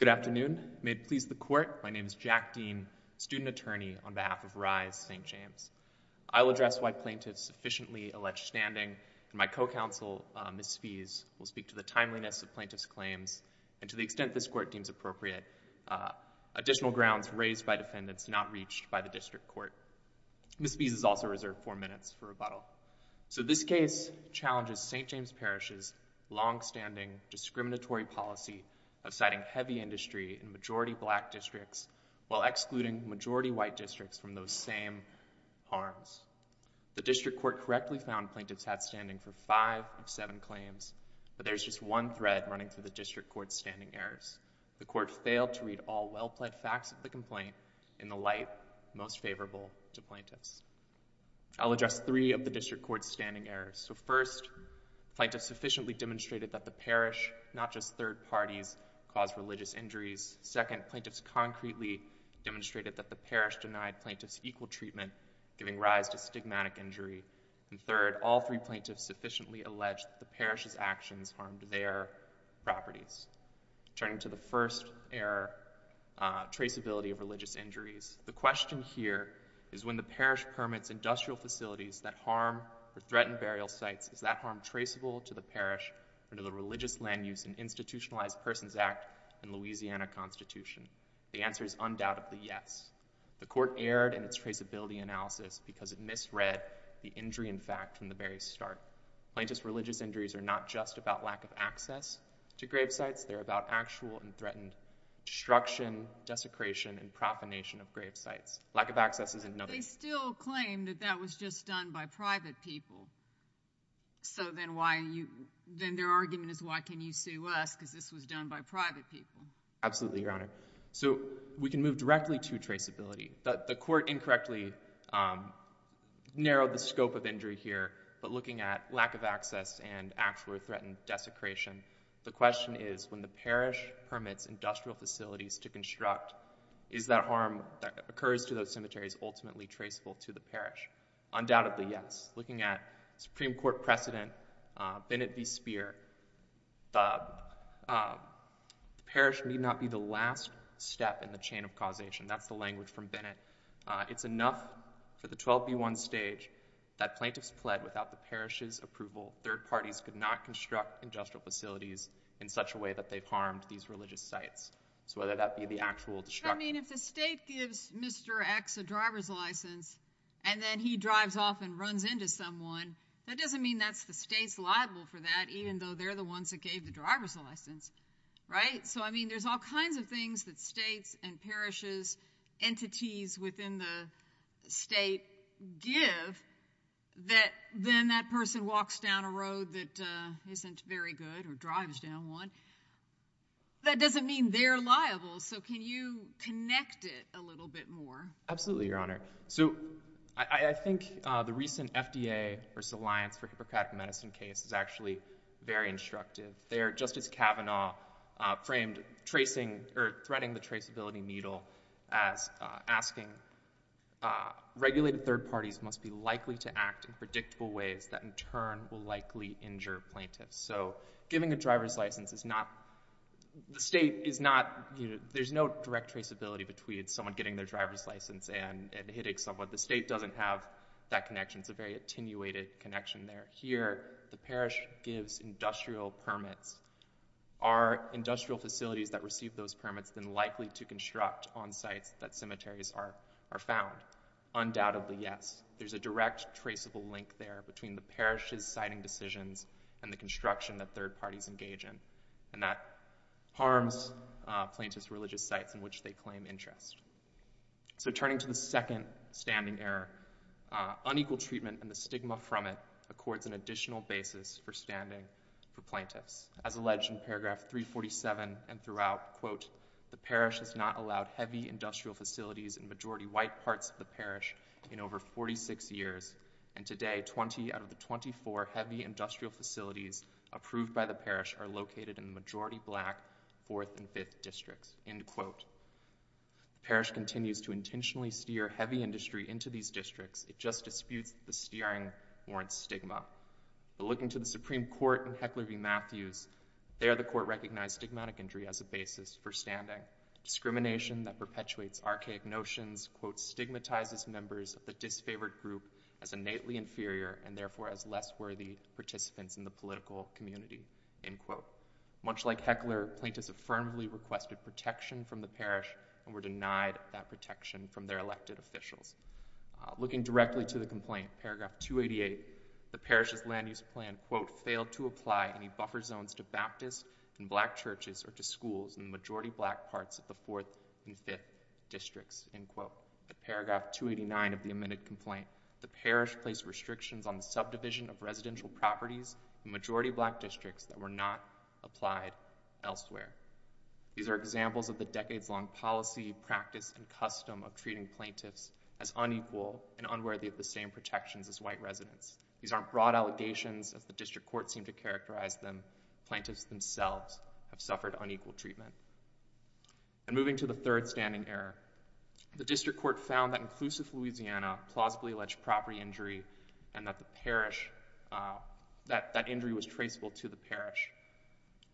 Good afternoon. May it please the court, my name is Jack Dean, student attorney on behalf of RISE St. James. I will address why plaintiffs sufficiently allege standing and my co-counsel, Ms. Spees, will speak to the timeliness of plaintiffs' claims and to the extent this court deems appropriate, additional grounds raised by defendants not reached by the district court. Ms. Spees is also reserved four minutes for rebuttal. So this case challenges St. James Parish's longstanding discriminatory policy of citing heavy industry in majority black districts while excluding majority white districts from those same arms. The district court correctly found plaintiffs had standing for five of seven claims, but there's just one thread running through the district court's standing errors. The court failed to read all well-plaid facts of the complaint in the light most favorable to plaintiffs. I'll address three of the district court's standing errors. So first, plaintiffs sufficiently demonstrated that the parish, not just third parties, caused religious injuries. Second, plaintiffs concretely demonstrated that the parish denied plaintiffs equal treatment, giving rise to stigmatic injury. And third, all three plaintiffs sufficiently alleged the parish's actions harmed their properties. Turning to the first error, traceability of religious injuries. The question here is when the parish permits industrial facilities that harm or threaten burial sites, is that harm traceable to the parish under the Religious Land Use and Institutionalized Persons Act and Louisiana Constitution? The answer is undoubtedly yes. The court erred in its traceability analysis because it misread the injury in fact from the very start. Plaintiffs' religious injuries are not just about lack of access to grave sites, they're about actual and threatened destruction, desecration, and profanation of grave sites. Lack of access is another. They still claim that that was just done by private people, so then why you, then their argument is why can you sue us because this was done by private people? Absolutely, Your Honor. So we can move directly to traceability. The court incorrectly narrowed the scope of injury here, but looking at lack of access and actual or threatened desecration, the question is when the parish permits industrial facilities to construct, is that harm that occurs to those cemeteries ultimately traceable to the parish? Undoubtedly yes. Looking at Supreme Court precedent, Bennett v. Speer, the parish need not be the last step in the chain of causation. That's the language from Bennett. It's enough for the 12b1 stage that plaintiffs pled without the parish's approval third parties could not construct industrial facilities in such a way that they've harmed these religious sites. So whether that be the actual destruction. I mean if the state gives Mr. X a driver's license and then he drives off and runs into someone, that doesn't mean that's the state's liable for that even though they're the ones that gave the driver's license, right? So I mean there's all kinds of things that states and parishes entities within the state give that then that person walks down a road that isn't very good or drives down one. That doesn't mean they're liable, so can you connect it a little bit more? Absolutely, Your Honor. So I think the recent FDA versus Alliance for Hippocratic Medicine case is actually very instructive. There Justice Kavanaugh framed tracing or threading the traceability needle as asking regulated third parties must be likely to act in predictable ways that in turn will likely injure plaintiffs. So giving a driver's traceability between someone getting their driver's license and hitting someone, the state doesn't have that connection. It's a very attenuated connection there. Here the parish gives industrial permits. Are industrial facilities that receive those permits then likely to construct on sites that cemeteries are found? Undoubtedly yes. There's a direct traceable link there between the parish's siting decisions and the construction that third parties engage in, and that harms plaintiff's religious sites in which they claim interest. So turning to the second standing error, unequal treatment and the stigma from it accords an additional basis for standing for plaintiffs. As alleged in paragraph 347 and throughout, quote, the parish has not allowed heavy industrial facilities in majority white parts of the parish in over 46 years, and today 20 out of the 24 heavy industrial facilities approved by the parish are located in the majority black fourth and fifth districts, end quote. The parish continues to intentionally steer heavy industry into these districts. It just disputes the steering warrants stigma. But looking to the Supreme Court and Heckler v. Matthews, there the court recognized stigmatic injury as a basis for standing. Discrimination that perpetuates archaic notions, quote, stigmatizes members of the disfavored group as innately inferior and therefore as less worthy participants in the political community, end quote. Much like Heckler, plaintiffs affirmably requested protection from the parish and were denied that protection from their elected officials. Looking directly to the complaint, paragraph 288, the parish's land use plan, quote, failed to apply any buffer zones to Baptist and black churches or to schools in the majority black parts of the fourth and fifth districts, end quote. At paragraph 289 of the amended complaint, the parish placed restrictions on the subdivision of residential properties in majority black districts that were not applied elsewhere. These are examples of the decades-long policy, practice, and custom of treating plaintiffs as unequal and unworthy of the same protections as white residents. These aren't broad allegations, as the district court seemed to characterize them. Plaintiffs themselves have suffered unequal treatment. And moving to the third standing error, the district court found that inclusive Louisiana plausibly alleged property injury and that the parish, that that injury was traceable to the parish.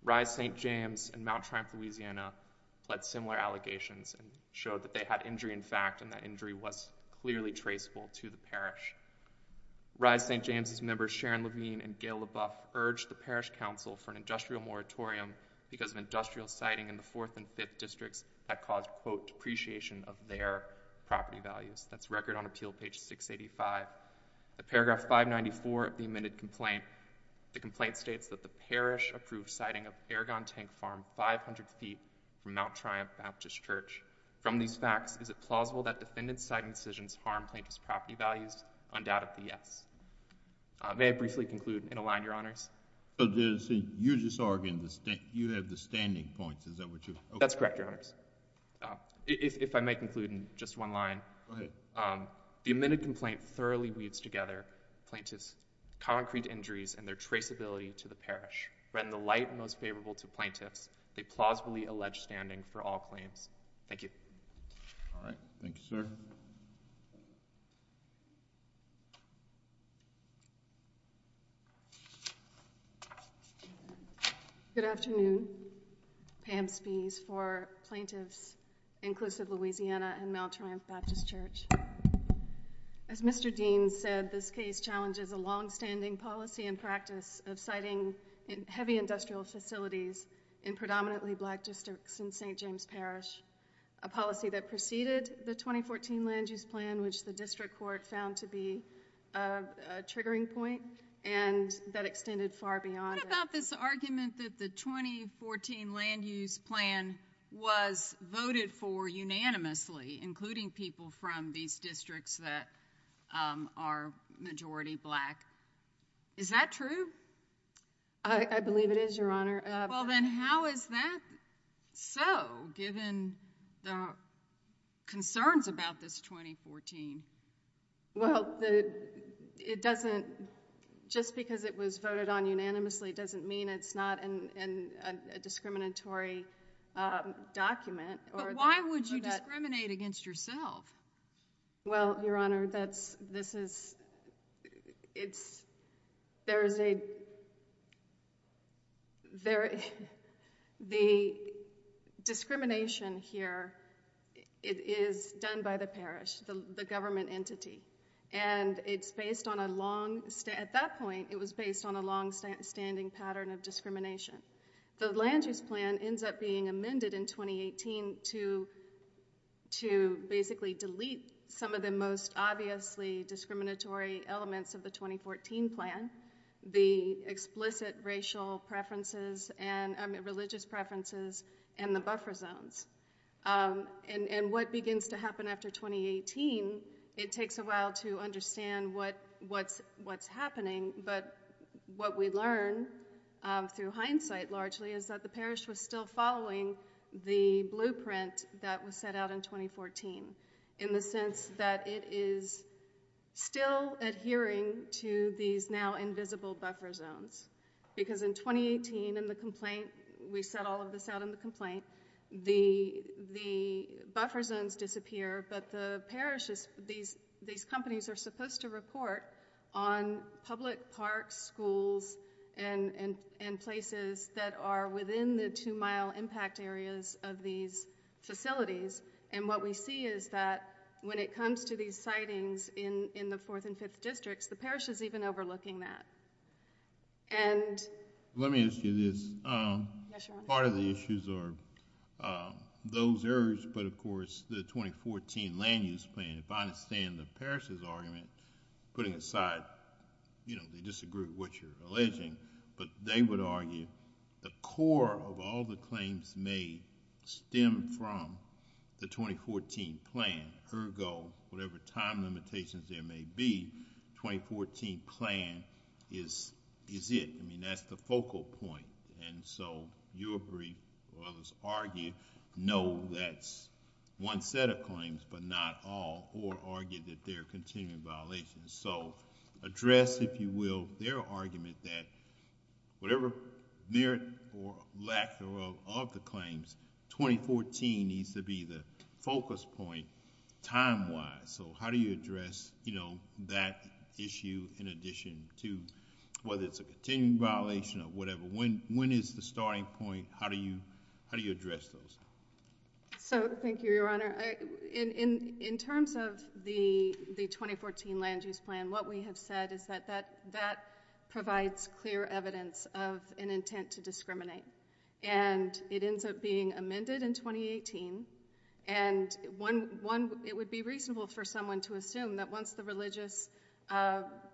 Rise St. James and Mount Triumph, Louisiana, pled similar allegations and showed that they had injury in fact and that injury was clearly traceable to the parish. Rise St. James's members Sharon Levine and Gail LaBoeuf urged the parish council for an industrial moratorium because of industrial siting in the fourth and fifth districts that caused, quote, depreciation of their property values. That's record on appeal page 685. At paragraph 594 of the amended complaint, the complaint states that the parish approved siting of Aragon Tank Farm 500 feet from Mount Triumph Baptist Church. From these facts, is it plausible that defendant site incisions harm plaintiff's property values? Undoubtedly yes. May I briefly conclude in a line, Your Honors? So you're just arguing that you have the standing points, is that what you're saying? That's correct, Your Honors. If I may conclude in just one line. Go ahead. The amended complaint thoroughly weaves together plaintiff's concrete injuries and their traceability to the parish. When the light most favorable to plaintiffs, they plausibly allege standing for all claims. Thank you. All right. Thank you, sir. Good afternoon. Pam Spees for Plaintiffs Inclusive Louisiana and Mount Triumph Baptist Church. As Mr. Dean said, this case challenges a longstanding policy and practice of siting heavy industrial facilities in predominantly black districts in St. James Parish, a policy that preceded the 2014 land use plan, which the district court found to be a triggering point and that extended far beyond. What about this argument that the 2014 land use plan was voted for unanimously, including people from these districts that are majority black? Is that true? I believe it is, Your Honor. Well, then how is that so, given the concerns about this 2014? Well, it doesn't, just because it was voted on unanimously doesn't mean it's not a discriminatory document. But why would you discriminate against yourself? Well, Your Honor, that's, this is, it's, there is a, there, the discrimination here, it is done by the parish, the government entity, and it's based on a long, at that point, it was based on a long standing pattern of discrimination. The land use plan ends up being amended in 2018 to, to basically delete some of the most obviously discriminatory elements of the 2014 plan, the explicit racial preferences and religious preferences and the buffer zones. And what begins to happen after 2018, it takes a while to understand what, what's, what's happening, but what we learn through hindsight largely is that the parish was still following the blueprint that was set out in 2014, in the sense that it is still adhering to these now invisible buffer zones. Because in 2018, in the complaint, we set all of this out in the complaint, the, the buffer zones disappear, but the parish is, these, these companies are supposed to report on public parks, schools, and, and, and places that are within the two mile impact areas of these facilities. And what we see is that when it comes to these sightings in, in the fourth and fifth districts, the parish is even overlooking that. And, let me ask you this. Yes, Your Honor. Part of the issues are those errors, but of course, the 2014 land use plan, if I understand the parish's argument, putting aside, you know, they disagree with what you're alleging, but they would argue the core of all the claims made stem from the 2014 plan. Ergo, whatever time limitations there may be, 2014 plan is, is it. I mean, that's the focal point. And so, you agree, or others argue, no, that's one set of claims, but not all, or argue that there are continuing violations. So, address, if you will, their argument that whatever merit or lack thereof of the claims, 2014 needs to be the focus point, time-wise. So, how do you address, you know, that issue in addition to, whether it's a continuing violation or whatever, when, when is the starting point? How do you, how do you address those? So, thank you, Your Honor. In, in, in terms of the, the 2014 land use plan, what we have said is that, that, that provides clear evidence of an intent to discriminate. And, it ends up being amended in 2018. And, one, one, it would be reasonable for someone to assume that once the religious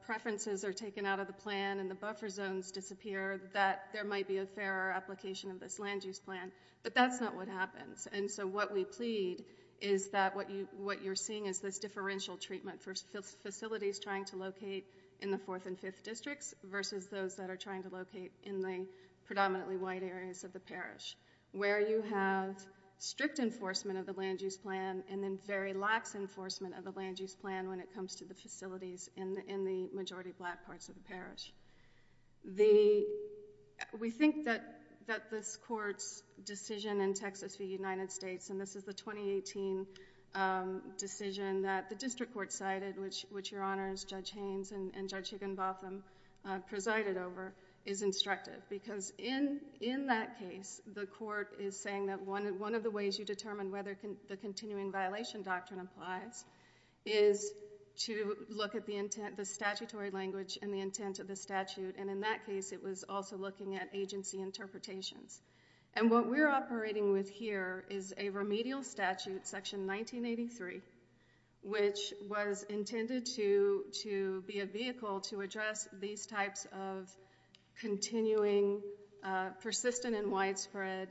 preferences are taken out of the plan, and the buffer zones disappear, that there might be a fairer application of this land use plan. But, that's not what happens. And, so, what we plead is that what you, what you're seeing is this differential treatment for facilities trying to locate in the fourth and fifth districts, versus those that are trying to locate in the predominantly white areas of the parish, where you have strict enforcement of the land use plan, and then very lax enforcement of the land use plan when it comes to the facilities in, in the majority black parts of the parish. The, we think that, that this Court's decision in Texas v. United States, and this is the 2018 decision that the District Court cited, which, which Your Honors, Judge Haynes and, and Judge Higginbotham presided over, is instructive. Because in, in that case, the Court is saying that one, one of the ways you determine whether the continuing violation doctrine applies is to look at the intent, the statutory language, and the intent of the statute. And, in that case, it was also looking at agency interpretations. And, what we're operating with here is a remedial statute, Section 1983, which was intended to, to be a vehicle to address these types of continuing, persistent and widespread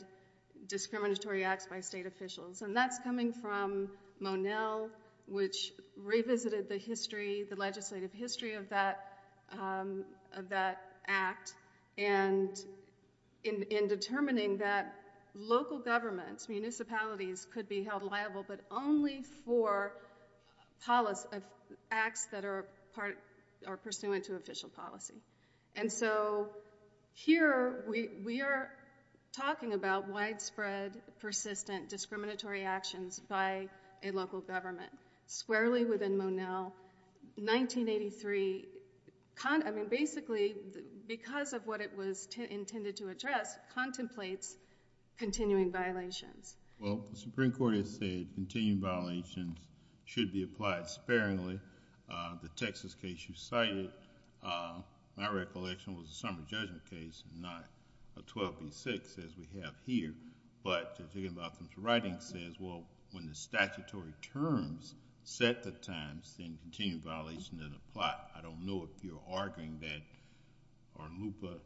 discriminatory acts by state officials. And that's coming from Monell, which revisited the history, the legislative history of that, of that act, and in, in determining that local governments, municipalities could be held liable, but only for policy, acts that are part, are pursuant to official policy. And so, here we, we are talking about widespread, persistent discriminatory actions by a local government. Squarely within Monell, 1983, I mean, basically, because of what it was intended to address, contemplates continuing violations. Well, the Supreme Court has stated continuing violations should be applied sparingly. The Texas case you cited, my recollection was a summer judgment case, not a 12 v. 6, as we have here. But, thinking about the writing says, well, when the statutory terms set the times, then continuing violation doesn't apply. I don't know if you're arguing that or LUPA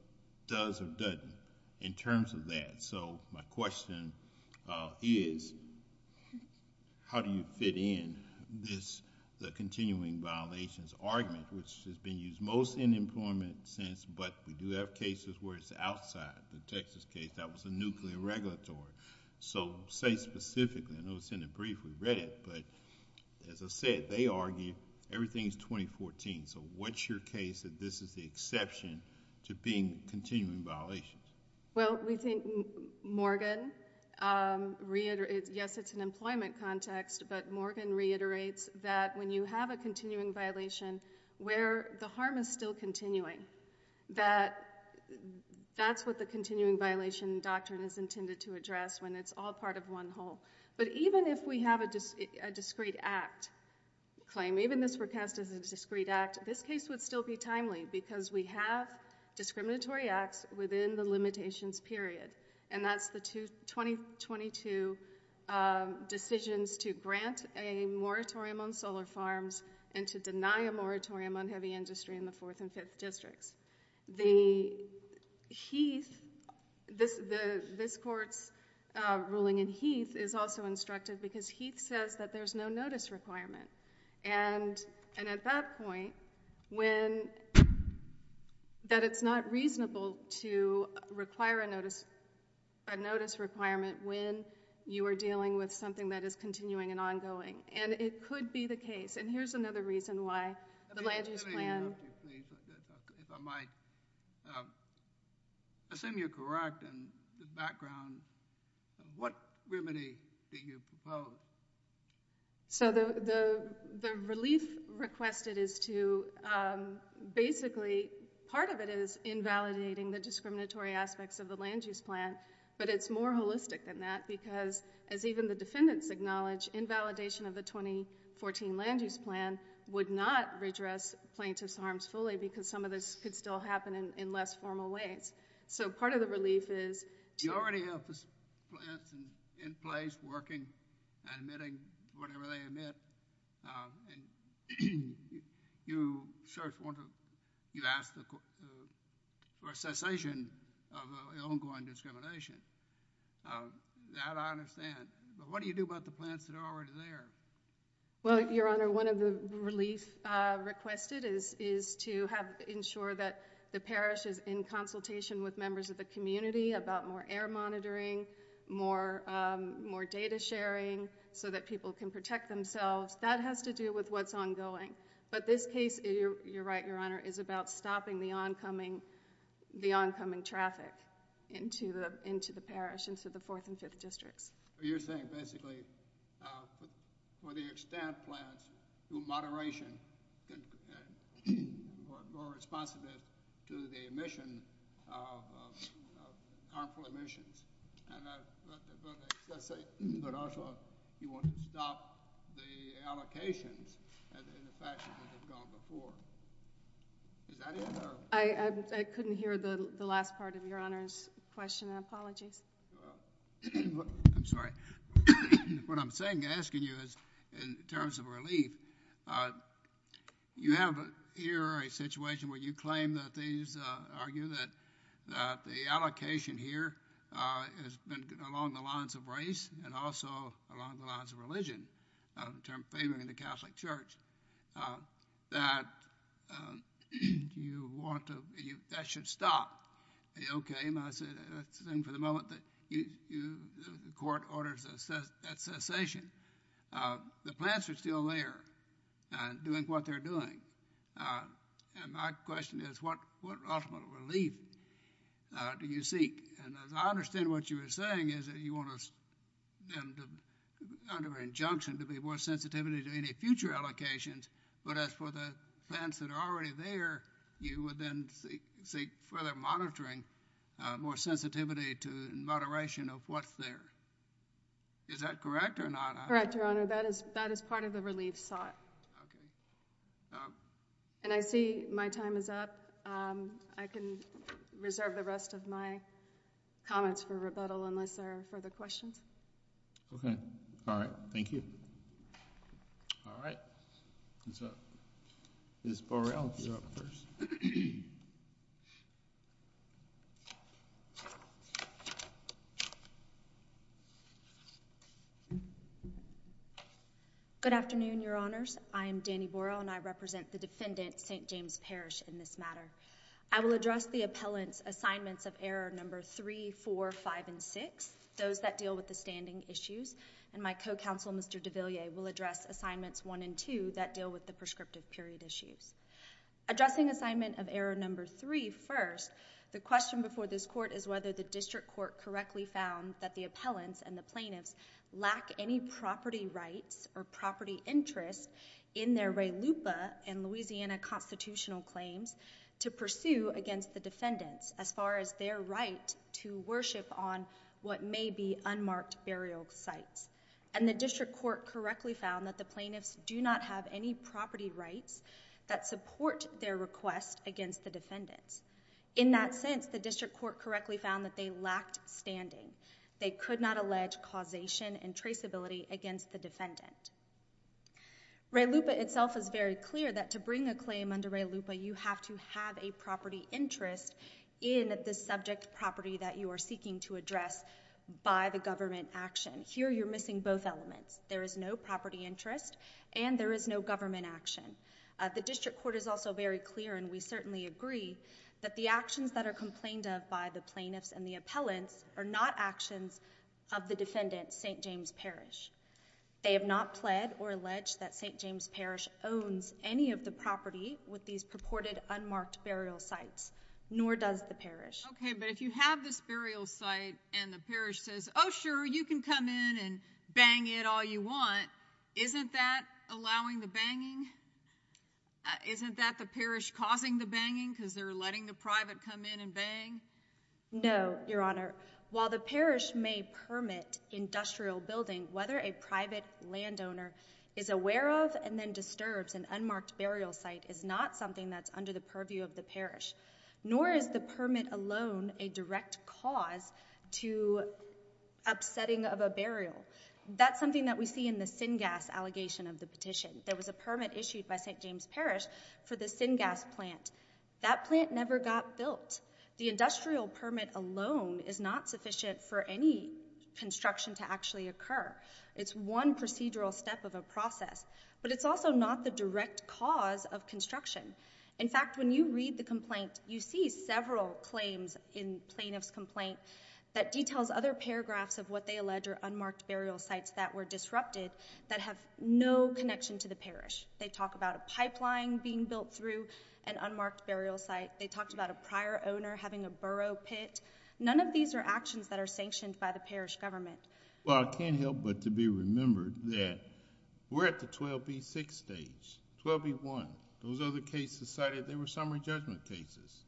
does or doesn't in terms of that. So, my question is, how do you fit in this, the continuing violations argument, which has been used most in employment since, but we do have cases where it's outside. The Texas case, that was a nuclear regulatory. So, say specifically, I know it's in the brief, we read it, but as I said, they argue everything is 2014. So, what's your case that this is the exception to being continuing violations? Well, we think Morgan reiterates, yes, it's an employment context, but Morgan reiterates that when you have a continuing violation, where the harm is still continuing, that that's what the continuing violation doctrine is intended to address when it's all part of one whole. But, even if we have a discrete act claim, even if this were cast as a discrete act, this case would still be timely because we have discriminatory acts within the limitations period, and that's the 2022 decisions to grant a moratorium on solar farms and to deny a moratorium on heavy industry in the 4th and 5th districts. The Heath, this court's ruling in Heath is also constructive because Heath says that there's no notice requirement, and at that point, when that it's not reasonable to require a notice requirement when you are dealing with something that is continuing and ongoing, and it could be the case, and here's another reason why the land use plan is not a discriminatory act. So, the relief requested is to, basically, part of it is invalidating the discriminatory aspects of the land use plan, but it's more holistic than that because, as even the defendants acknowledge, invalidation of the 2014 land use plan would not redress plaintiff's harms fully because some of this could still happen in less formal ways. So, part of the relief is... You already have plants in place working and admitting whatever they admit, and you search, you ask for a cessation of the ongoing discrimination. That I understand, but what do you do about the plants that are already there? Well, your honor, one of the relief requested is to have ensure that the parish is in consultation with members of the community about more air monitoring, more data sharing, so that people can protect themselves. That has to do with what's ongoing, but this case, you're right, your honor, is about stopping the oncoming traffic into the parish, into the fourth and fifth districts. So, you're saying, basically, for the extent plants do moderation, more responsive to the emission of harmful emissions, but also, you want to stop the allocations in the fashion that have gone before. Is that it, or? I couldn't hear the last part of your honor's question. Apologies. Well, I'm sorry. What I'm saying, asking you, is in terms of relief, you have here a situation where you claim that these argue that the allocation here has been along the lines of race and also along the lines of religion, favoring the Catholic Church, that you want to... That should stop. Okay. I assume for the moment that the court orders that cessation. The plants are still there, doing what they're doing. And my question is, what ultimate relief do you seek? And as I understand what you were saying, is that you want them, under an injunction, to be more sensitive to any future allocations, but as for the plants that are already there, you would then seek further monitoring, more sensitivity to moderation of what's there. Is that correct or not? Correct, your honor. That is part of the relief sought. And I see my time is up. I can reserve the rest of my comments for rebuttal, unless there are further questions. Okay. All right. Thank you. All right. Ms. Borrell, you're up first. Good afternoon, your honors. I am Dani Borrell, and I represent the defendant, St. James Parish, in this matter. I will address the appellant's assignments of error number three, four, five, and six, those that deal with the standing issues. And my co-counsel, Mr. DeVilliers, will address assignments one and two that deal with the prescriptive period issues. Addressing assignment of error number three first, the question before this court is whether the district court correctly found that the appellants and the plaintiffs lack any property rights or property interests in their re lupa and Louisiana constitutional claims to pursue against the defendants as far as their right to worship on what may be unmarked burial sites. And the district court correctly found that the plaintiffs do not have any property rights that support their request against the defendants. In that sense, the district court correctly found that they lacked standing. They could not allege causation and traceability against the defendant. Re lupa itself is very clear that to bring a claim under re lupa, you have to have a property interest in the subject property that you are seeking to address by the government action. Here, you're missing both elements. There is no property interest and there is no government action. The district court is also very clear, and we certainly agree, that the actions that are complained of by the plaintiffs and the appellants are not actions of the defendant, St. James Parish. They have not pled or alleged that St. James Parish owns any of the property with these unmarked burial sites, nor does the parish. Okay, but if you have this burial site and the parish says, oh sure, you can come in and bang it all you want, isn't that allowing the banging? Isn't that the parish causing the banging because they're letting the private come in and bang? No, your honor. While the parish may permit industrial building, whether a private landowner is aware of and then disturbs an unmarked burial site is not something that's under the purview of the parish, nor is the permit alone a direct cause to upsetting of a burial. That's something that we see in the syngas allegation of the petition. There was a permit issued by St. James Parish for the syngas plant. That plant never got built. The industrial permit alone is not sufficient for any construction to actually occur. It's one procedural step of a process, but it's also not the direct cause of construction. In fact, when you read the complaint, you see several claims in plaintiff's complaint that details other paragraphs of what they allege are unmarked burial sites that were disrupted that have no connection to the parish. They talk about a pipeline being built through an unmarked burial site. They talked about a prior owner having a pit. None of these are actions that are sanctioned by the parish government. Well, I can't help but to be remembered that we're at the 12B6 stage, 12B1. Those other cases cited, they were summary judgment cases.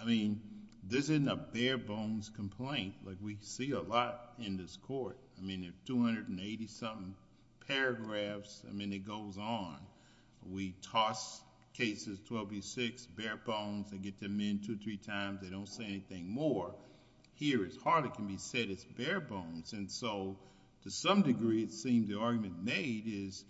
I mean, this isn't a bare bones complaint like we see a lot in this court. I mean, there's 280 something paragraphs. I mean, it goes on. We toss cases 12B6 bare bones. They get them in two or three times. They don't say anything more. Here, it hardly can be said it's bare bones. And so, to some degree, it seems the argument made is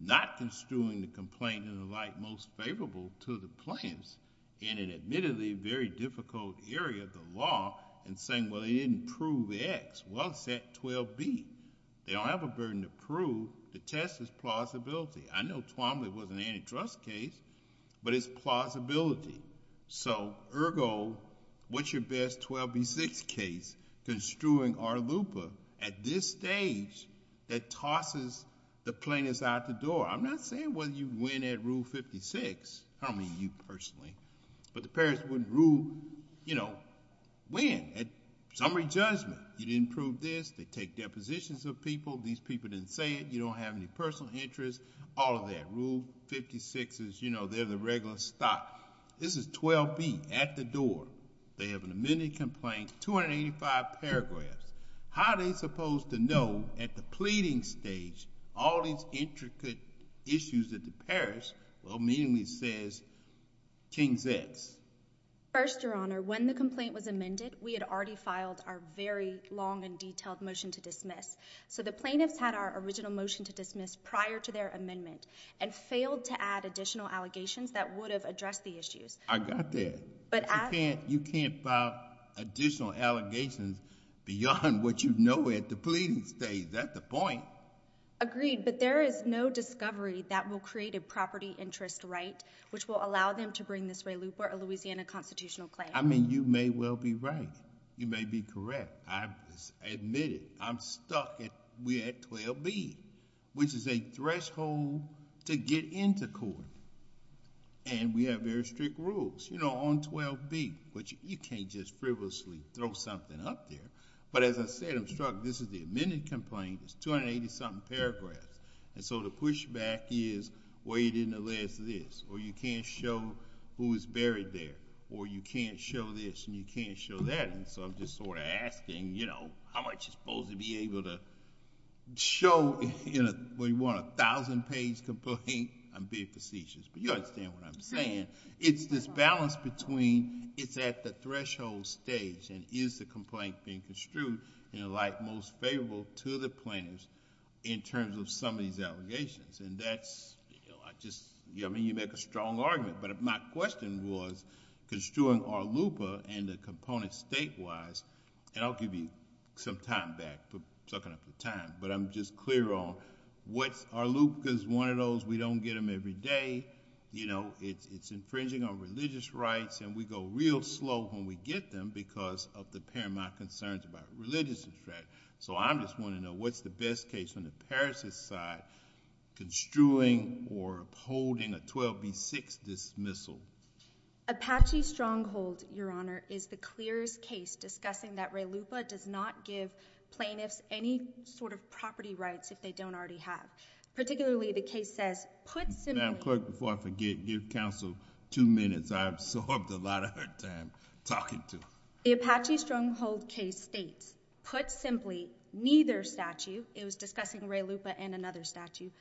not construing the complaint in the light most favorable to the plans in an admittedly very difficult area of the law and saying, well, they didn't prove X. Well, it's at 12B. They don't have a burden to prove. The test is plausibility. I know Twombly was an antitrust case, but it's plausibility. So, ergo, what's your best 12B6 case construing our LUPA at this stage that tosses the plaintiffs out the door? I'm not saying whether you win at Rule 56. I don't mean you personally, but the parish wouldn't rule, you know, win at summary judgment. You didn't prove this. They don't have any personal interest. All of that. Rule 56 is, you know, they're the regular stock. This is 12B at the door. They have an amended complaint, 285 paragraphs. How are they supposed to know at the pleading stage all these intricate issues that the parish will meaningly say is King's X? First, Your Honor, when the complaint was amended, we had already filed our very long and detailed motion to dismiss. So, the plaintiffs had our original motion to dismiss prior to their amendment and failed to add additional allegations that would have addressed the issues. I got that. You can't file additional allegations beyond what you know at the pleading stage. That's the point. Agreed, but there is no discovery that will create a property interest right which will allow them to bring this way LUPA, a Louisiana constitutional claim. I mean, you may well be right. You may be correct. I admit it. I'm stuck. We're at 12B, which is a threshold to get into court. And we have very strict rules, you know, on 12B, which you can't just frivolously throw something up there. But as I said, I'm struck. This is the amended complaint. It's 280-something paragraphs. And so, the pushback is, well, you didn't allege this. Or you can't show who is buried there. Or you can't show this and you can't show that. And so, I'm just sort of asking, you know, how much is it supposed to be able to show when you want a thousand-page complaint? I'm being facetious, but you understand what I'm saying. It's this balance between it's at the threshold stage and is the complaint being construed in a light most favorable to the plaintiffs in terms of some of these allegations. And that's, you know, I just, I mean, you make a strong argument. But if my question was construing our LUPA and the component state-wise, and I'll give you some time back for sucking up the time. But I'm just clear on what's our LUPA is one of those we don't get them every day. You know, it's infringing on religious rights. And we go real slow when we get them because of the paramount concerns about religious threat. So, I'm just wanting to know what's the best case on the parishes side construing or upholding a 12b6 dismissal. Apache Stronghold, your honor, is the clearest case discussing that Ray LUPA does not give plaintiffs any sort of property rights if they don't already have. Particularly, the case says, put simply. Before I forget, give counsel two minutes. I put simply, neither statute, it was discussing Ray LUPA and another statute,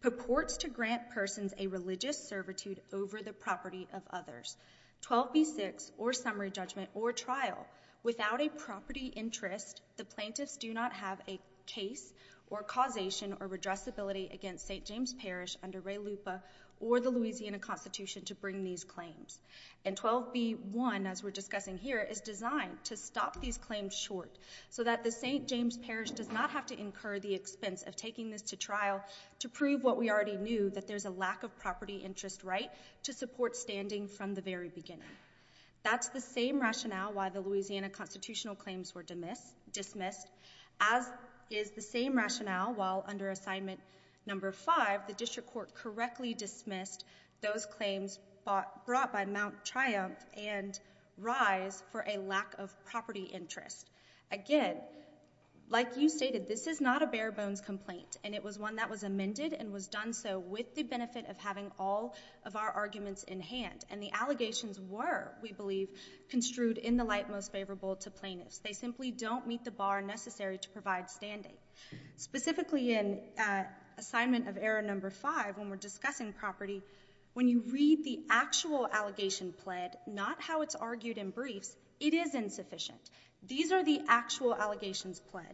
purports to grant persons a religious servitude over the property of others. 12b6 or summary judgment or trial without a property interest, the plaintiffs do not have a case or causation or redressability against St. James Parish under Ray LUPA or the Louisiana Constitution to bring these claims. And 12b1, as we're discussing here, is designed to stop these claims short so that the St. James Parish does not have to incur the expense of taking this to trial to prove what we already knew, that there's a lack of property interest right to support standing from the very beginning. That's the same rationale why the Louisiana Constitutional claims were dismissed. As is the same rationale while under assignment number five, the district court correctly dismissed those claims brought by Mount Triumph and rise for a lack of property interest. Again, like you stated, this is not a bare bones complaint. And it was one that was amended and was done so with the benefit of having all of our arguments in hand. And the allegations were, we believe, construed in the light most favorable to plaintiffs. They simply don't meet the bar necessary to provide standing. Specifically in assignment of error number five, when we're when you read the actual allegation pled, not how it's argued in briefs, it is insufficient. These are the actual allegations pled.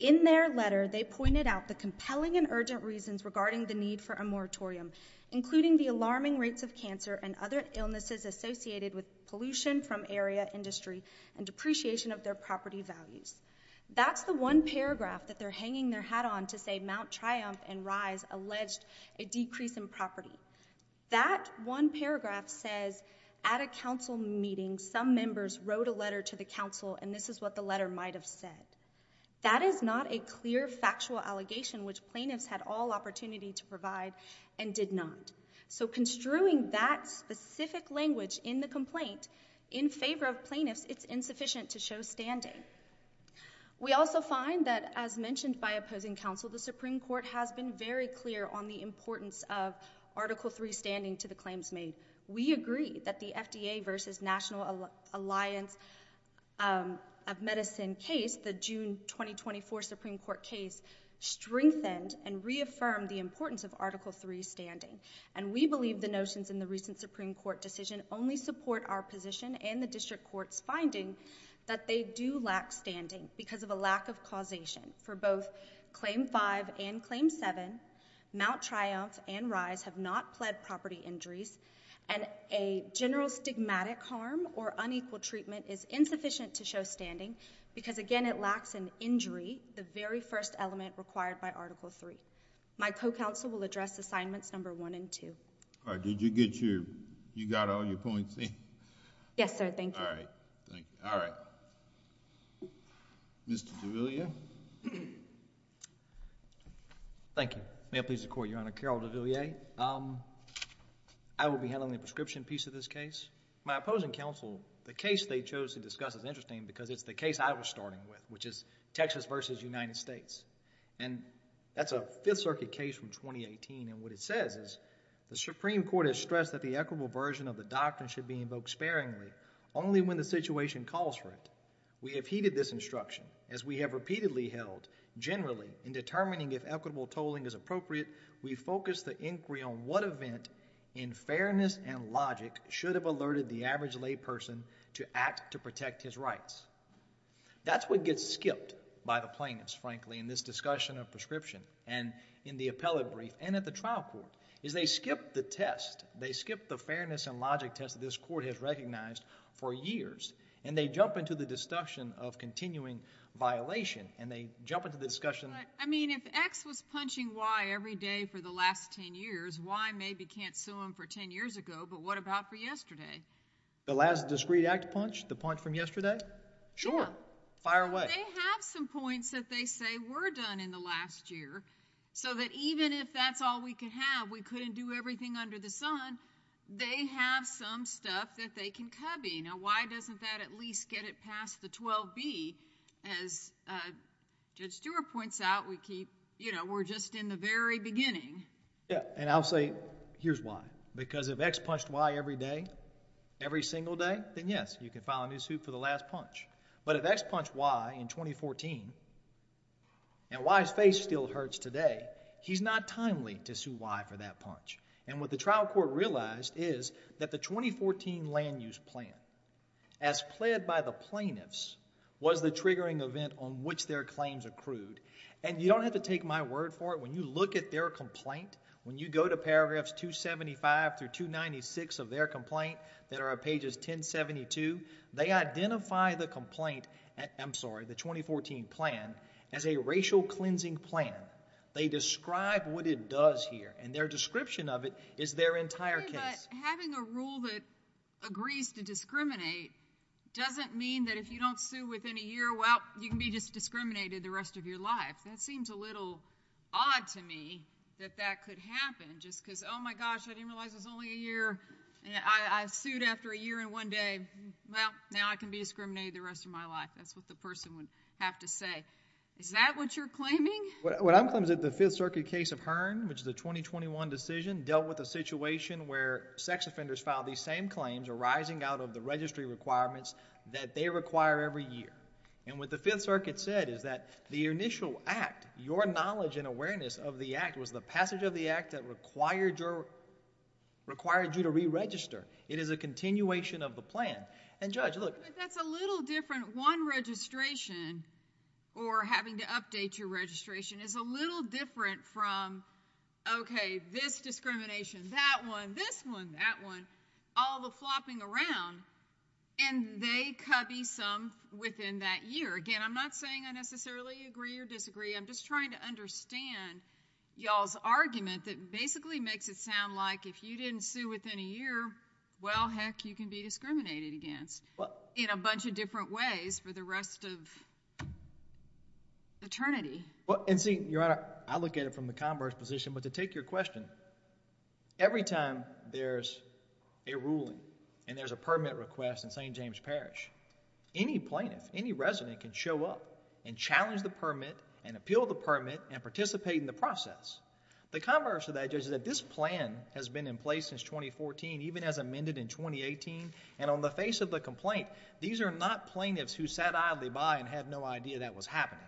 In their letter, they pointed out the compelling and urgent reasons regarding the need for a moratorium, including the alarming rates of cancer and other illnesses associated with pollution from area industry and depreciation of their property values. That's the one paragraph that they're hanging their hat on to say Mount Triumph and alleged a decrease in property. That one paragraph says at a council meeting, some members wrote a letter to the council and this is what the letter might have said. That is not a clear factual allegation which plaintiffs had all opportunity to provide and did not. So construing that specific language in the complaint in favor of plaintiffs, it's insufficient to show standing. We also find that as mentioned by opposing council, the Supreme Court has been very clear on the importance of Article III standing to the claims made. We agree that the FDA versus National Alliance of Medicine case, the June 2024 Supreme Court case, strengthened and reaffirmed the importance of Article III standing. And we believe the notions in the recent Supreme Court decision only support our position and the district court's finding that they do lack standing because of a lack of causation. For both Claim 5 and Claim 7, Mount Triumph and Rise have not pled property injuries and a general stigmatic harm or unequal treatment is insufficient to show standing because again it lacks an injury, the very first element required by Article III. My co-counsel will address Assignments 1 and 2. All right. Did you get your... you got all your points in? Yes, sir. Thank you. All right. Thank you. All right. Mr. Duvillier. Thank you. May it please the Court, Your Honor. Carroll Duvillier. I will be handling the prescription piece of this case. My opposing council, the case they chose to discuss is interesting because it's the case I was starting with, which is Texas versus United States. And that's a Fifth Circuit case from 2018. And what it says is, the Supreme Court has stressed that the equitable version of the doctrine should be invoked sparingly only when the situation calls for it. We have heeded this instruction as we have repeatedly held generally in determining if equitable tolling is appropriate. We focus the inquiry on what event in fairness and logic should have alerted the average lay person to act to protect his rights. That's what gets skipped by the plaintiffs, frankly, in this discussion of prescription and in the appellate brief and at the trial court, is they skip the test. They skip the fairness and logic test that this court has recognized for years. And they jump into the discussion of continuing violation. And they jump into the discussion... But, I mean, if X was punching Y every day for the last 10 years, Y maybe can't sue him for 10 years ago. But what about for yesterday? The last discreet act punch? The punch from yesterday? Sure. Fire away. They have some points that they say were done in the last year. So that even if that's all we can have, we couldn't do everything under the sun, they have some stuff that they can cubby. Now, why doesn't that at least get it past the 12B? As Judge Stewart points out, we keep, you know, we're just in the very beginning. Yeah. And I'll say here's why. Because if X punched Y every day, every single day, then yes, you can file a new suit for the last punch. But if X punched Y in 2014, and Y's face still hurts today, he's not timely to sue Y for that punch. And what the trial court realized is that the 2014 land use plan, as pled by the plaintiffs, was the triggering event on which their claims accrued. And you don't have to take my word for it. When you look at their complaint, when you go to paragraphs 275 through 296 of their complaint that are at pages 1072, they identify the complaint, I'm sorry, the 2014 plan as a racial cleansing plan. They describe what it does here. And their description of it is their entire case. Having a rule that agrees to discriminate doesn't mean that if you don't sue within a year, well, you can be just discriminated the of your life. That seems a little odd to me that that could happen just because, oh my gosh, I didn't realize it was only a year. I sued after a year and one day. Well, now I can be discriminated the rest of my life. That's what the person would have to say. Is that what you're claiming? What I'm claiming is that the Fifth Circuit case of Hearn, which is a 2021 decision, dealt with a situation where sex offenders filed these same claims arising out of the registry requirements that they require every year. And what the Fifth Circuit said is that the initial act, your knowledge and awareness of the act was the passage of the act that required your required you to re-register. It is a continuation of the plan. And Judge, look. But that's a little different. One registration or having to update your registration is a little different from, okay, this discrimination, that one, this one, that one, all the flopping around, and they copy some within that year. Again, I'm not saying I necessarily agree or disagree. I'm just trying to understand y'all's argument that basically makes it sound like if you didn't sue within a year, well, heck, you can be discriminated against in a bunch of different ways for the rest of eternity. Well, and see, Your Honor, I look at it from the converse position. But to take your question, every time there's a ruling and there's a permit request in St. James Parish, any plaintiff, any resident can show up and challenge the permit and appeal the permit and participate in the process. The converse of that, Judge, is that this plan has been in place since 2014, even as amended in 2018. And on the face of the complaint, these are not plaintiffs who sat idly by and had no idea that was happening.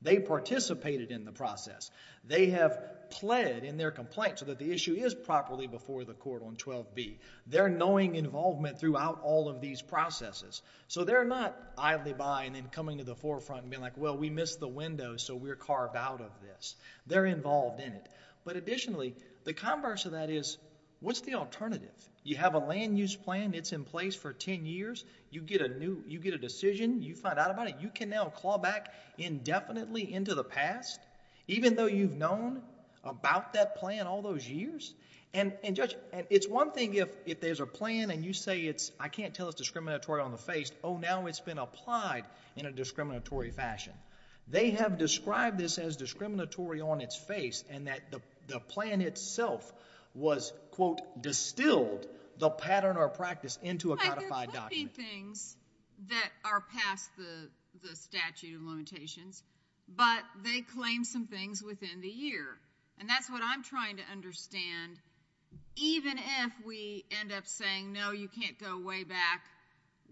They participated in the process. They have pled in their complaint so that the issue is properly before the court on 12b. They're knowing involvement throughout all of these processes. So they're not idly by and then coming to the forefront and being like, well, we missed the window, so we're carved out of this. They're involved in it. But additionally, the converse of that is, what's the alternative? You have a land use plan. It's in place for 10 years. You get a decision. You find out about it. You can now claw back indefinitely into the past, even though you've known about that plan all those years. And, Judge, it's one thing if there's a plan and you say it's, I can't tell it's discriminatory on the face. Oh, now it's been applied in a discriminatory fashion. They have described this as discriminatory on its face and that the plan itself was, quote, distilled the pattern or practice into a codified document. There could be things that are past the statute of limitations, but they claim some things within the year. And that's what I'm trying to understand. Even if we end up saying, no, you can't go way back,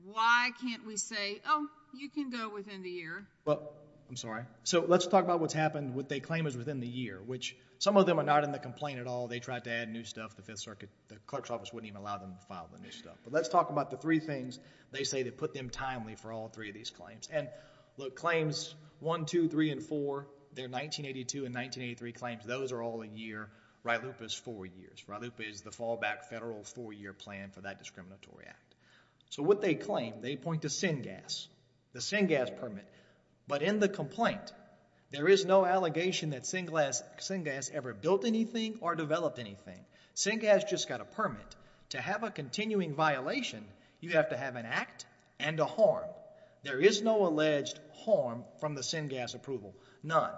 why can't we say, oh, you can go within the year? Well, I'm sorry. So let's talk about what's happened, what they claim is within the year, which some of them are not in the complaint at all. They tried to add new stuff. The Fifth Amendment wouldn't even allow them to file the new stuff. But let's talk about the three things they say that put them timely for all three of these claims. And look, claims 1, 2, 3, and 4, they're 1982 and 1983 claims. Those are all a year. RILUPA is four years. RILUPA is the fallback federal four-year plan for that discriminatory act. So what they claim, they point to Syngas, the Syngas permit. But in the complaint, there is no allegation that Syngas ever built anything or developed anything. Syngas just got a permit. To have a continuing violation, you have to have an act and a harm. There is no alleged harm from the Syngas approval, none.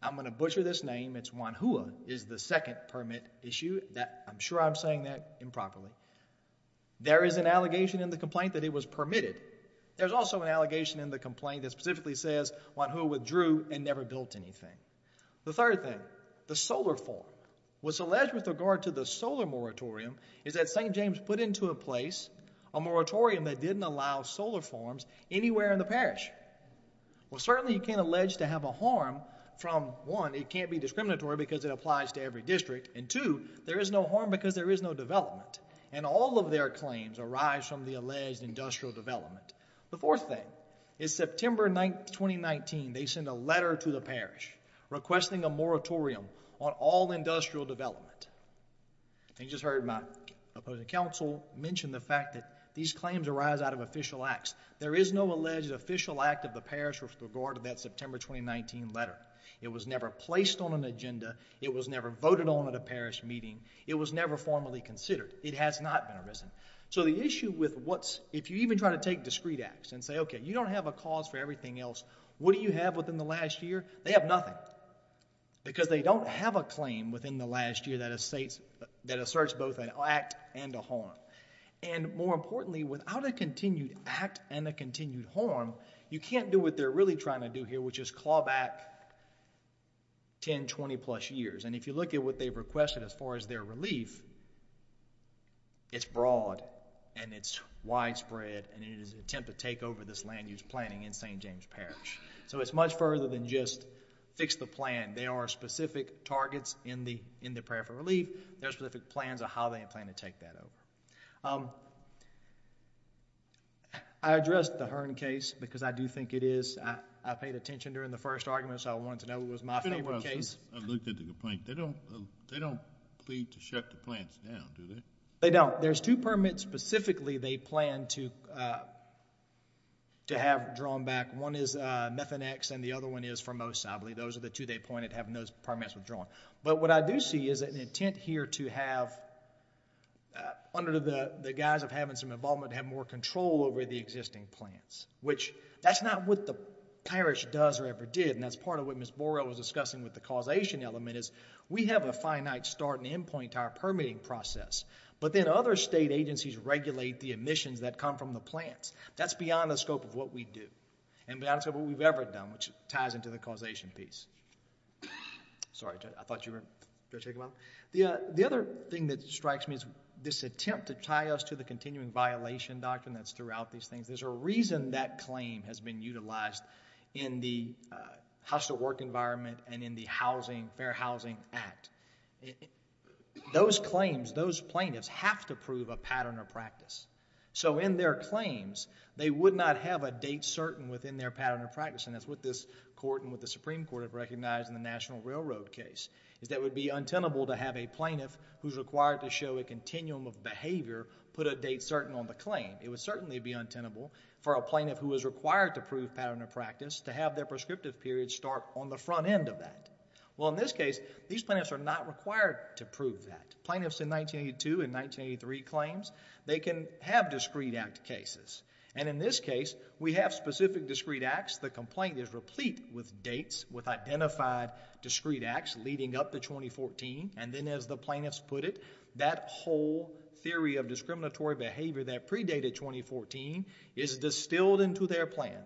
I'm going to butcher this name. It's Wanhua is the second permit issue. I'm sure I'm saying that improperly. There is an allegation in the complaint that it was permitted. There's also an allegation in the complaint that specifically says Wanhua withdrew and never built anything. The third thing, the solar farm. What's alleged with regard to the solar moratorium is that St. James put into a place a moratorium that didn't allow solar farms anywhere in the parish. Well, certainly you can't allege to have a harm from, one, it can't be discriminatory because it applies to every district. And two, there is no harm because there is no development. And all of their claims arise from the alleged industrial development. The fourth thing is September 9th, 2019, they sent a letter to the parish requesting a moratorium on all industrial development. And you just heard my opposing counsel mention the fact that these claims arise out of official acts. There is no alleged official act of the parish with regard to that September 2019 letter. It was never placed on an agenda. It was never voted on at a parish meeting. It was never formally considered. It has not been arisen. So the issue with what's, if you even try to take discrete acts and say, okay, you don't have a cause for everything else, what do you have within the last year? They have nothing because they don't have a claim within the last year that asserts both an act and a harm. And more importantly, without a continued act and a continued harm, you can't do what they're really trying to do here, which is claw back 10, 20 plus years. And if you look at what they've requested as far as their relief, it's broad and it's widespread and it is an attempt to this land use planning in St. James Parish. So it's much further than just fix the plan. There are specific targets in the prayer for relief. There's specific plans of how they plan to take that over. I addressed the Hearn case because I do think it is, I paid attention during the first argument, so I wanted to know what was my favorite case. I looked at the complaint. They don't, they don't plead to shut the plants down, do they? They don't. There's two permits specifically they plan to have drawn back. One is Methanex and the other one is Formosa. I believe those are the two they pointed having those permits withdrawn. But what I do see is an intent here to have under the guise of having some involvement, have more control over the existing plants, which that's not what the parish does or ever did. And that's part of what Ms. Borrell was discussing with the causation element is we have a finite start and end point to our permitting process. But then other state agencies regulate the emissions that come from the plants. That's beyond the scope of what we do and beyond the scope of what we've ever done, which ties into the causation piece. Sorry, I thought you were, did I take a moment? The other thing that strikes me is this attempt to tie us to the continuing violation doctrine that's throughout these things. There's a reason that claim has been utilized in the hostel work environment and in the Housing, Fair Housing Act. Those claims, those plaintiffs have to prove a pattern of practice. So in their claims, they would not have a date certain within their pattern of practice. And that's what this court and what the Supreme Court have recognized in the National Railroad case is that it would be untenable to have a plaintiff who's required to show a continuum of behavior put a date certain on the claim. It would certainly be untenable for a plaintiff who is required to prove pattern of practice to have their prescriptive period start on the front end of that. Well, in this case, these plaintiffs are not required to prove that. Plaintiffs in 1982 and 1983 claims, they can have discrete act cases. And in this case, we have specific discrete acts. The complaint is replete with dates with identified discrete acts leading up to 2014. And then as the plaintiffs put it, that whole theory of discriminatory behavior that predated 2014 is distilled into their plan.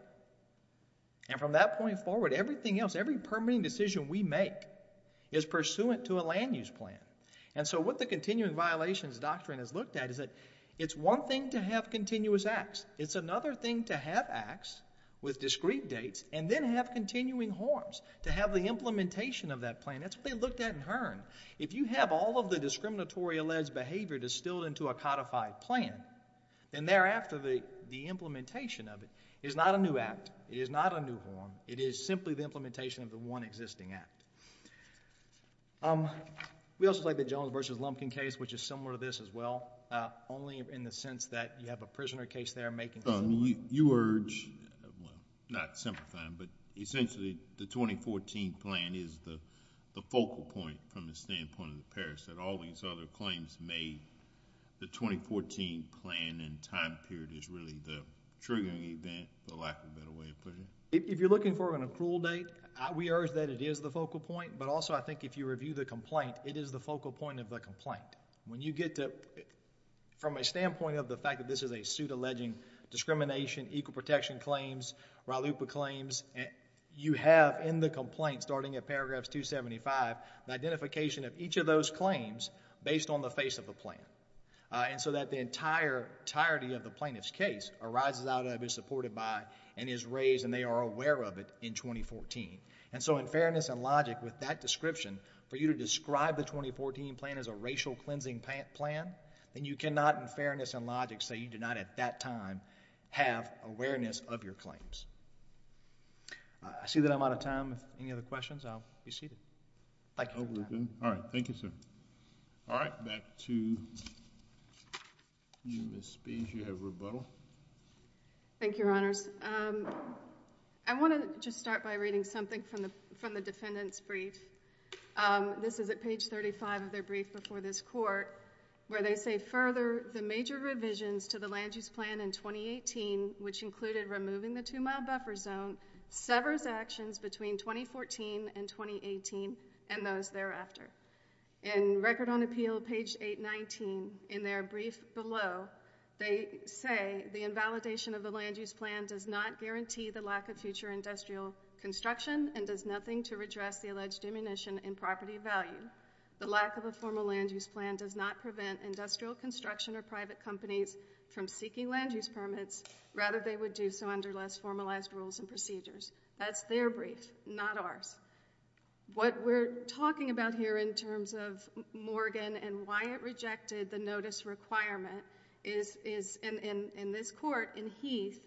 And from that point forward, everything else, every permitting decision we make is pursuant to a land use plan. And so what the continuing violations doctrine has looked at is that it's one thing to have continuous acts. It's another thing to have acts with discrete dates and then have continuing harms to have the implementation of that plan. That's what they looked at in Hearn. If you have all of the discriminatory alleged behavior distilled into a codified plan, then thereafter the implementation of it is not a new act. It is not a new harm. It is simply the implementation of the one existing act. We also have the Jones v. Lumpkin case, which is similar to this as well, only in the sense that you have a prisoner case there making. You urge, well, not simplifying, but essentially the 2014 plan is the focal point from the standpoint of the parents that all these other claims made, the 2014 plan and time period is really the triggering event, for lack of a better way of putting it. If you're looking for an accrual date, we urge that it is the focal point. But also, I think if you review the complaint, it is the focal point of the complaint. When you get to, from a standpoint of the fact that this is a suit alleging discrimination, equal protection claims, RILUPA claims, you have in the complaint, starting at paragraphs 275, the identification of each of those claims based on the face of the plan. And so that the entirety of the plaintiff's case arises out of, is supported by, and is raised, and they are aware of it in 2014. And so in fairness and logic, with that description, for you to describe the 2014 plan as a racial cleansing plan, then you cannot, in fairness and logic, say you did not at that time have awareness of your claims. I see that I'm out of time. If any other questions, I'll be seated. Thank you for your time. All right. Thank you, sir. All right. Back to you, Ms. Spies. You have rebuttal. Thank you, Your Honors. I want to just start by reading something from the defendant's brief. This is at page 35 of their brief before this court, where they say, Further, the major revisions to the land use plan in 2018, which included removing the two-mile and those thereafter. In Record on Appeal, page 819, in their brief below, they say, The invalidation of the land use plan does not guarantee the lack of future industrial construction and does nothing to redress the alleged diminution in property value. The lack of a formal land use plan does not prevent industrial construction or private companies from seeking land use permits. Rather, they would do so under less formalized rules and procedures. That's their brief, not ours. What we're talking about here in terms of Morgan and why it rejected the notice requirement is, in this court, in Heath,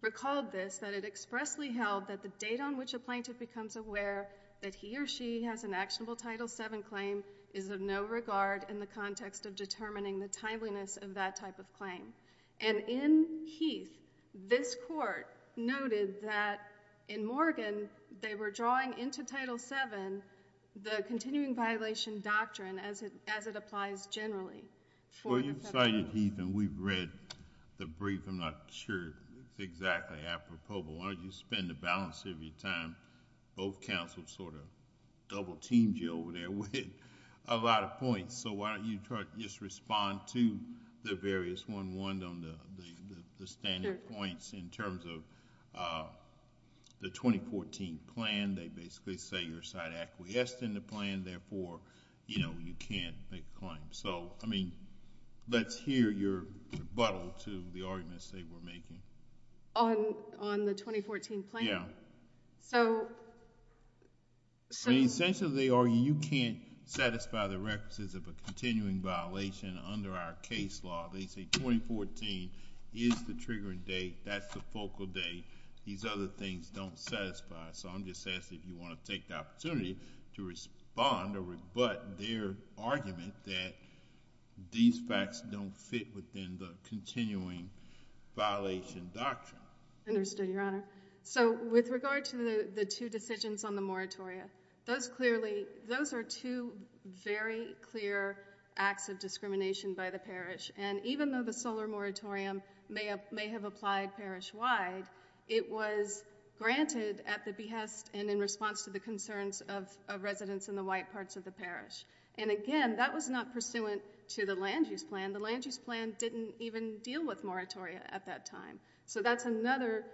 recalled this, that it expressly held that the date on which a plaintiff becomes aware that he or she has an actionable Title VII claim is of no regard in the context of determining the timeliness of that type of claim. In Heath, this court noted that, in Morgan, they were drawing into Title VII the continuing violation doctrine as it applies generally. When you cited Heath, and we've read the brief, I'm not sure it's exactly apropos, but why don't you spend the balance of your time, both counsels double-teamed you over there with a lot of points, so why don't you just respond to the various one-oneed on the standard points in terms of the 2014 plan. They basically say you're side-acquiesced in the plan, therefore, you can't make a claim. Let's hear your rebuttal to the arguments they were making. On the 2014 plan? So... Essentially, they argue you can't satisfy the requisites of a continuing violation under our case law. They say 2014 is the triggering date, that's the focal date. These other things don't satisfy, so I'm just asking if you want to take the opportunity to respond or rebut their argument that these facts don't fit within the continuing violation doctrine. Understood, Your Honor. So with regard to the two decisions on the moratoria, those clearly, those are two very clear acts of discrimination by the parish, and even though the solar moratorium may have applied parish-wide, it was granted at the behest and in response to the concerns of residents in the white parts of the parish. And again, that was not pursuant to the land-use plan. The land-use plan didn't even deal with moratoria at that time. So that's another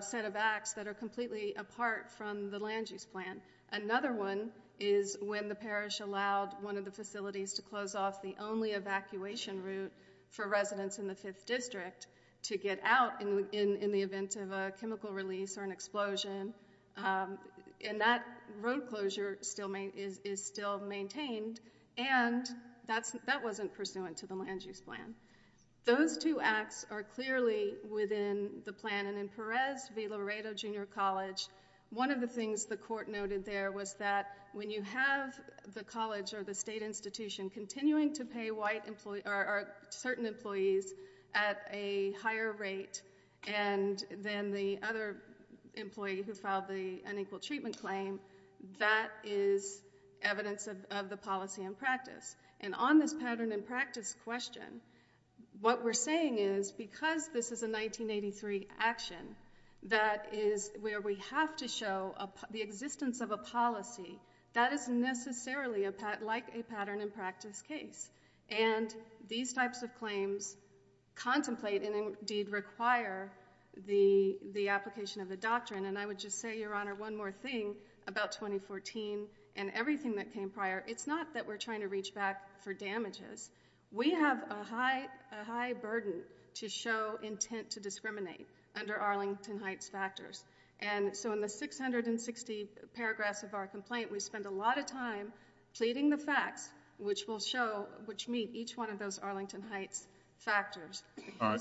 set of acts that are completely apart from the land-use plan. Another one is when the parish allowed one of the facilities to close off the only evacuation route for residents in the 5th District to get out in the event of a chemical release or an explosion, and that road closure is still maintained, and that wasn't pursuant to the land-use plan. Those two acts are clearly within the plan, and in Perez v. Laredo Junior College, one of the things the court noted there was that when you have the college or the state institution continuing to pay certain employees at a higher rate than the other employee who filed the unequal treatment claim, that is evidence of the policy in practice. And on this pattern in practice question, what we're saying is because this is a 1983 action, that is where we have to show the existence of a policy that is necessarily like a pattern in practice case. And these types of claims contemplate and indeed require the application of the doctrine, and I would just say, Your Honor, one more thing about 2014 and everything that came prior. It's not that we're trying to reach back for damages. We have a high burden to show intent to discriminate under Arlington Heights factors, and so in the 660 paragraphs of our complaint, we spend a lot of time pleading the facts which will show, which meet each one of those Arlington Heights factors. All right.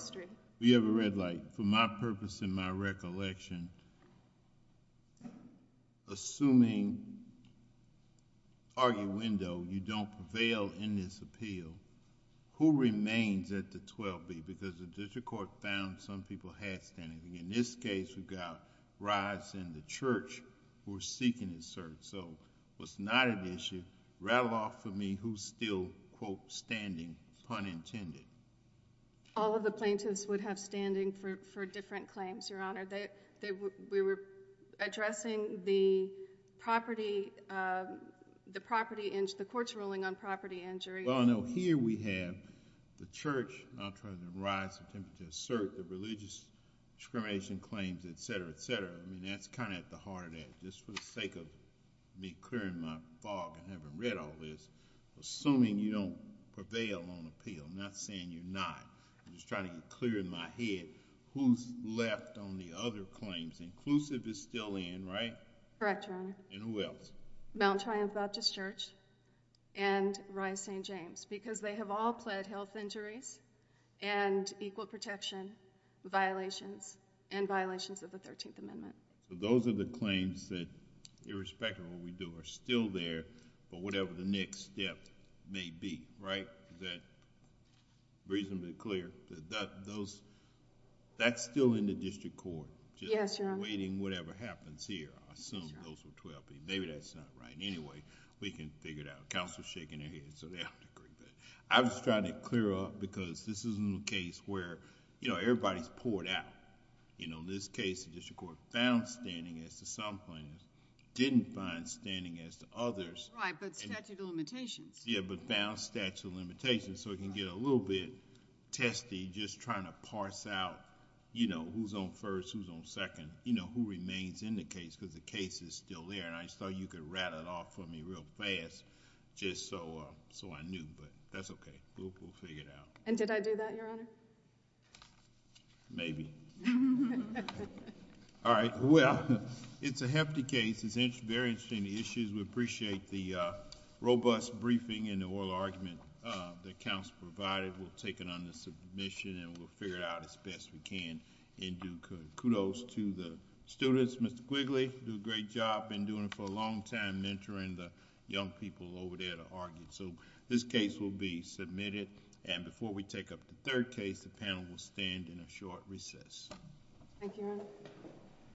We have a red light. For my purpose and my recollection, assuming arguendo, you don't prevail in this appeal, who remains at the 12B? Because the district court found some people had standing. In this case, we've got Rice and the church who are seeking a cert, so it's not an issue. Rattle off for me who's still, quote, standing, pun intended. All of the plaintiffs would have standing for different claims, Your Honor. We were addressing the property, the property, the court's ruling on property injury. Well, I know here we have the church, I'll try to rise to attempt to assert the religious discrimination claims, et cetera, et cetera. I mean, that's kind of at the heart of that. Just for the sake of me clearing my fog and having read all this, assuming you don't prevail on appeal, I'm not saying you're not. I'm just trying to get clear in my head who's left on the other claims. Inclusive is still in, right? Correct, Your Honor. And who else? Mount Triumph Baptist Church and Rice St. James because they have all pled health injuries and equal protection violations and violations of the 13th Amendment. So those are the claims that irrespective of what you do are still there for whatever the next step may be, right? Is that reasonably clear? That's still in the district court. Yes, Your Honor. Just waiting whatever happens here. I assume those were 12 people. Maybe that's not right. Anyway, we can figure it out. Counselor's shaking her head so they have to agree. I'm just trying to clear up because this isn't a case where everybody's poured out. In this case, the district court found standing as to some plaintiffs, didn't find standing as to others. Right, but statute of limitations. Yeah, but found statute of limitations. So it can get a little bit testy just trying to parse out who's on first, who's on second, who remains in the case because the case is still there. And I thought you could rat it off for me real fast just so I knew. But that's okay. We'll figure it out. And did I do that, Your Honor? Maybe. All right. Well, it's a hefty case. It's very interesting issues. We appreciate the robust briefing and the oral argument that counsel provided. We'll take it under submission and we'll figure it out as best we can and do kudos to the students. Mr. Quigley, do a great job. Been doing it for a long time, mentoring the young people over there to argue. This case will be submitted. And before we take up the third case, the panel will stand in a short recess. Thank you, Your Honor.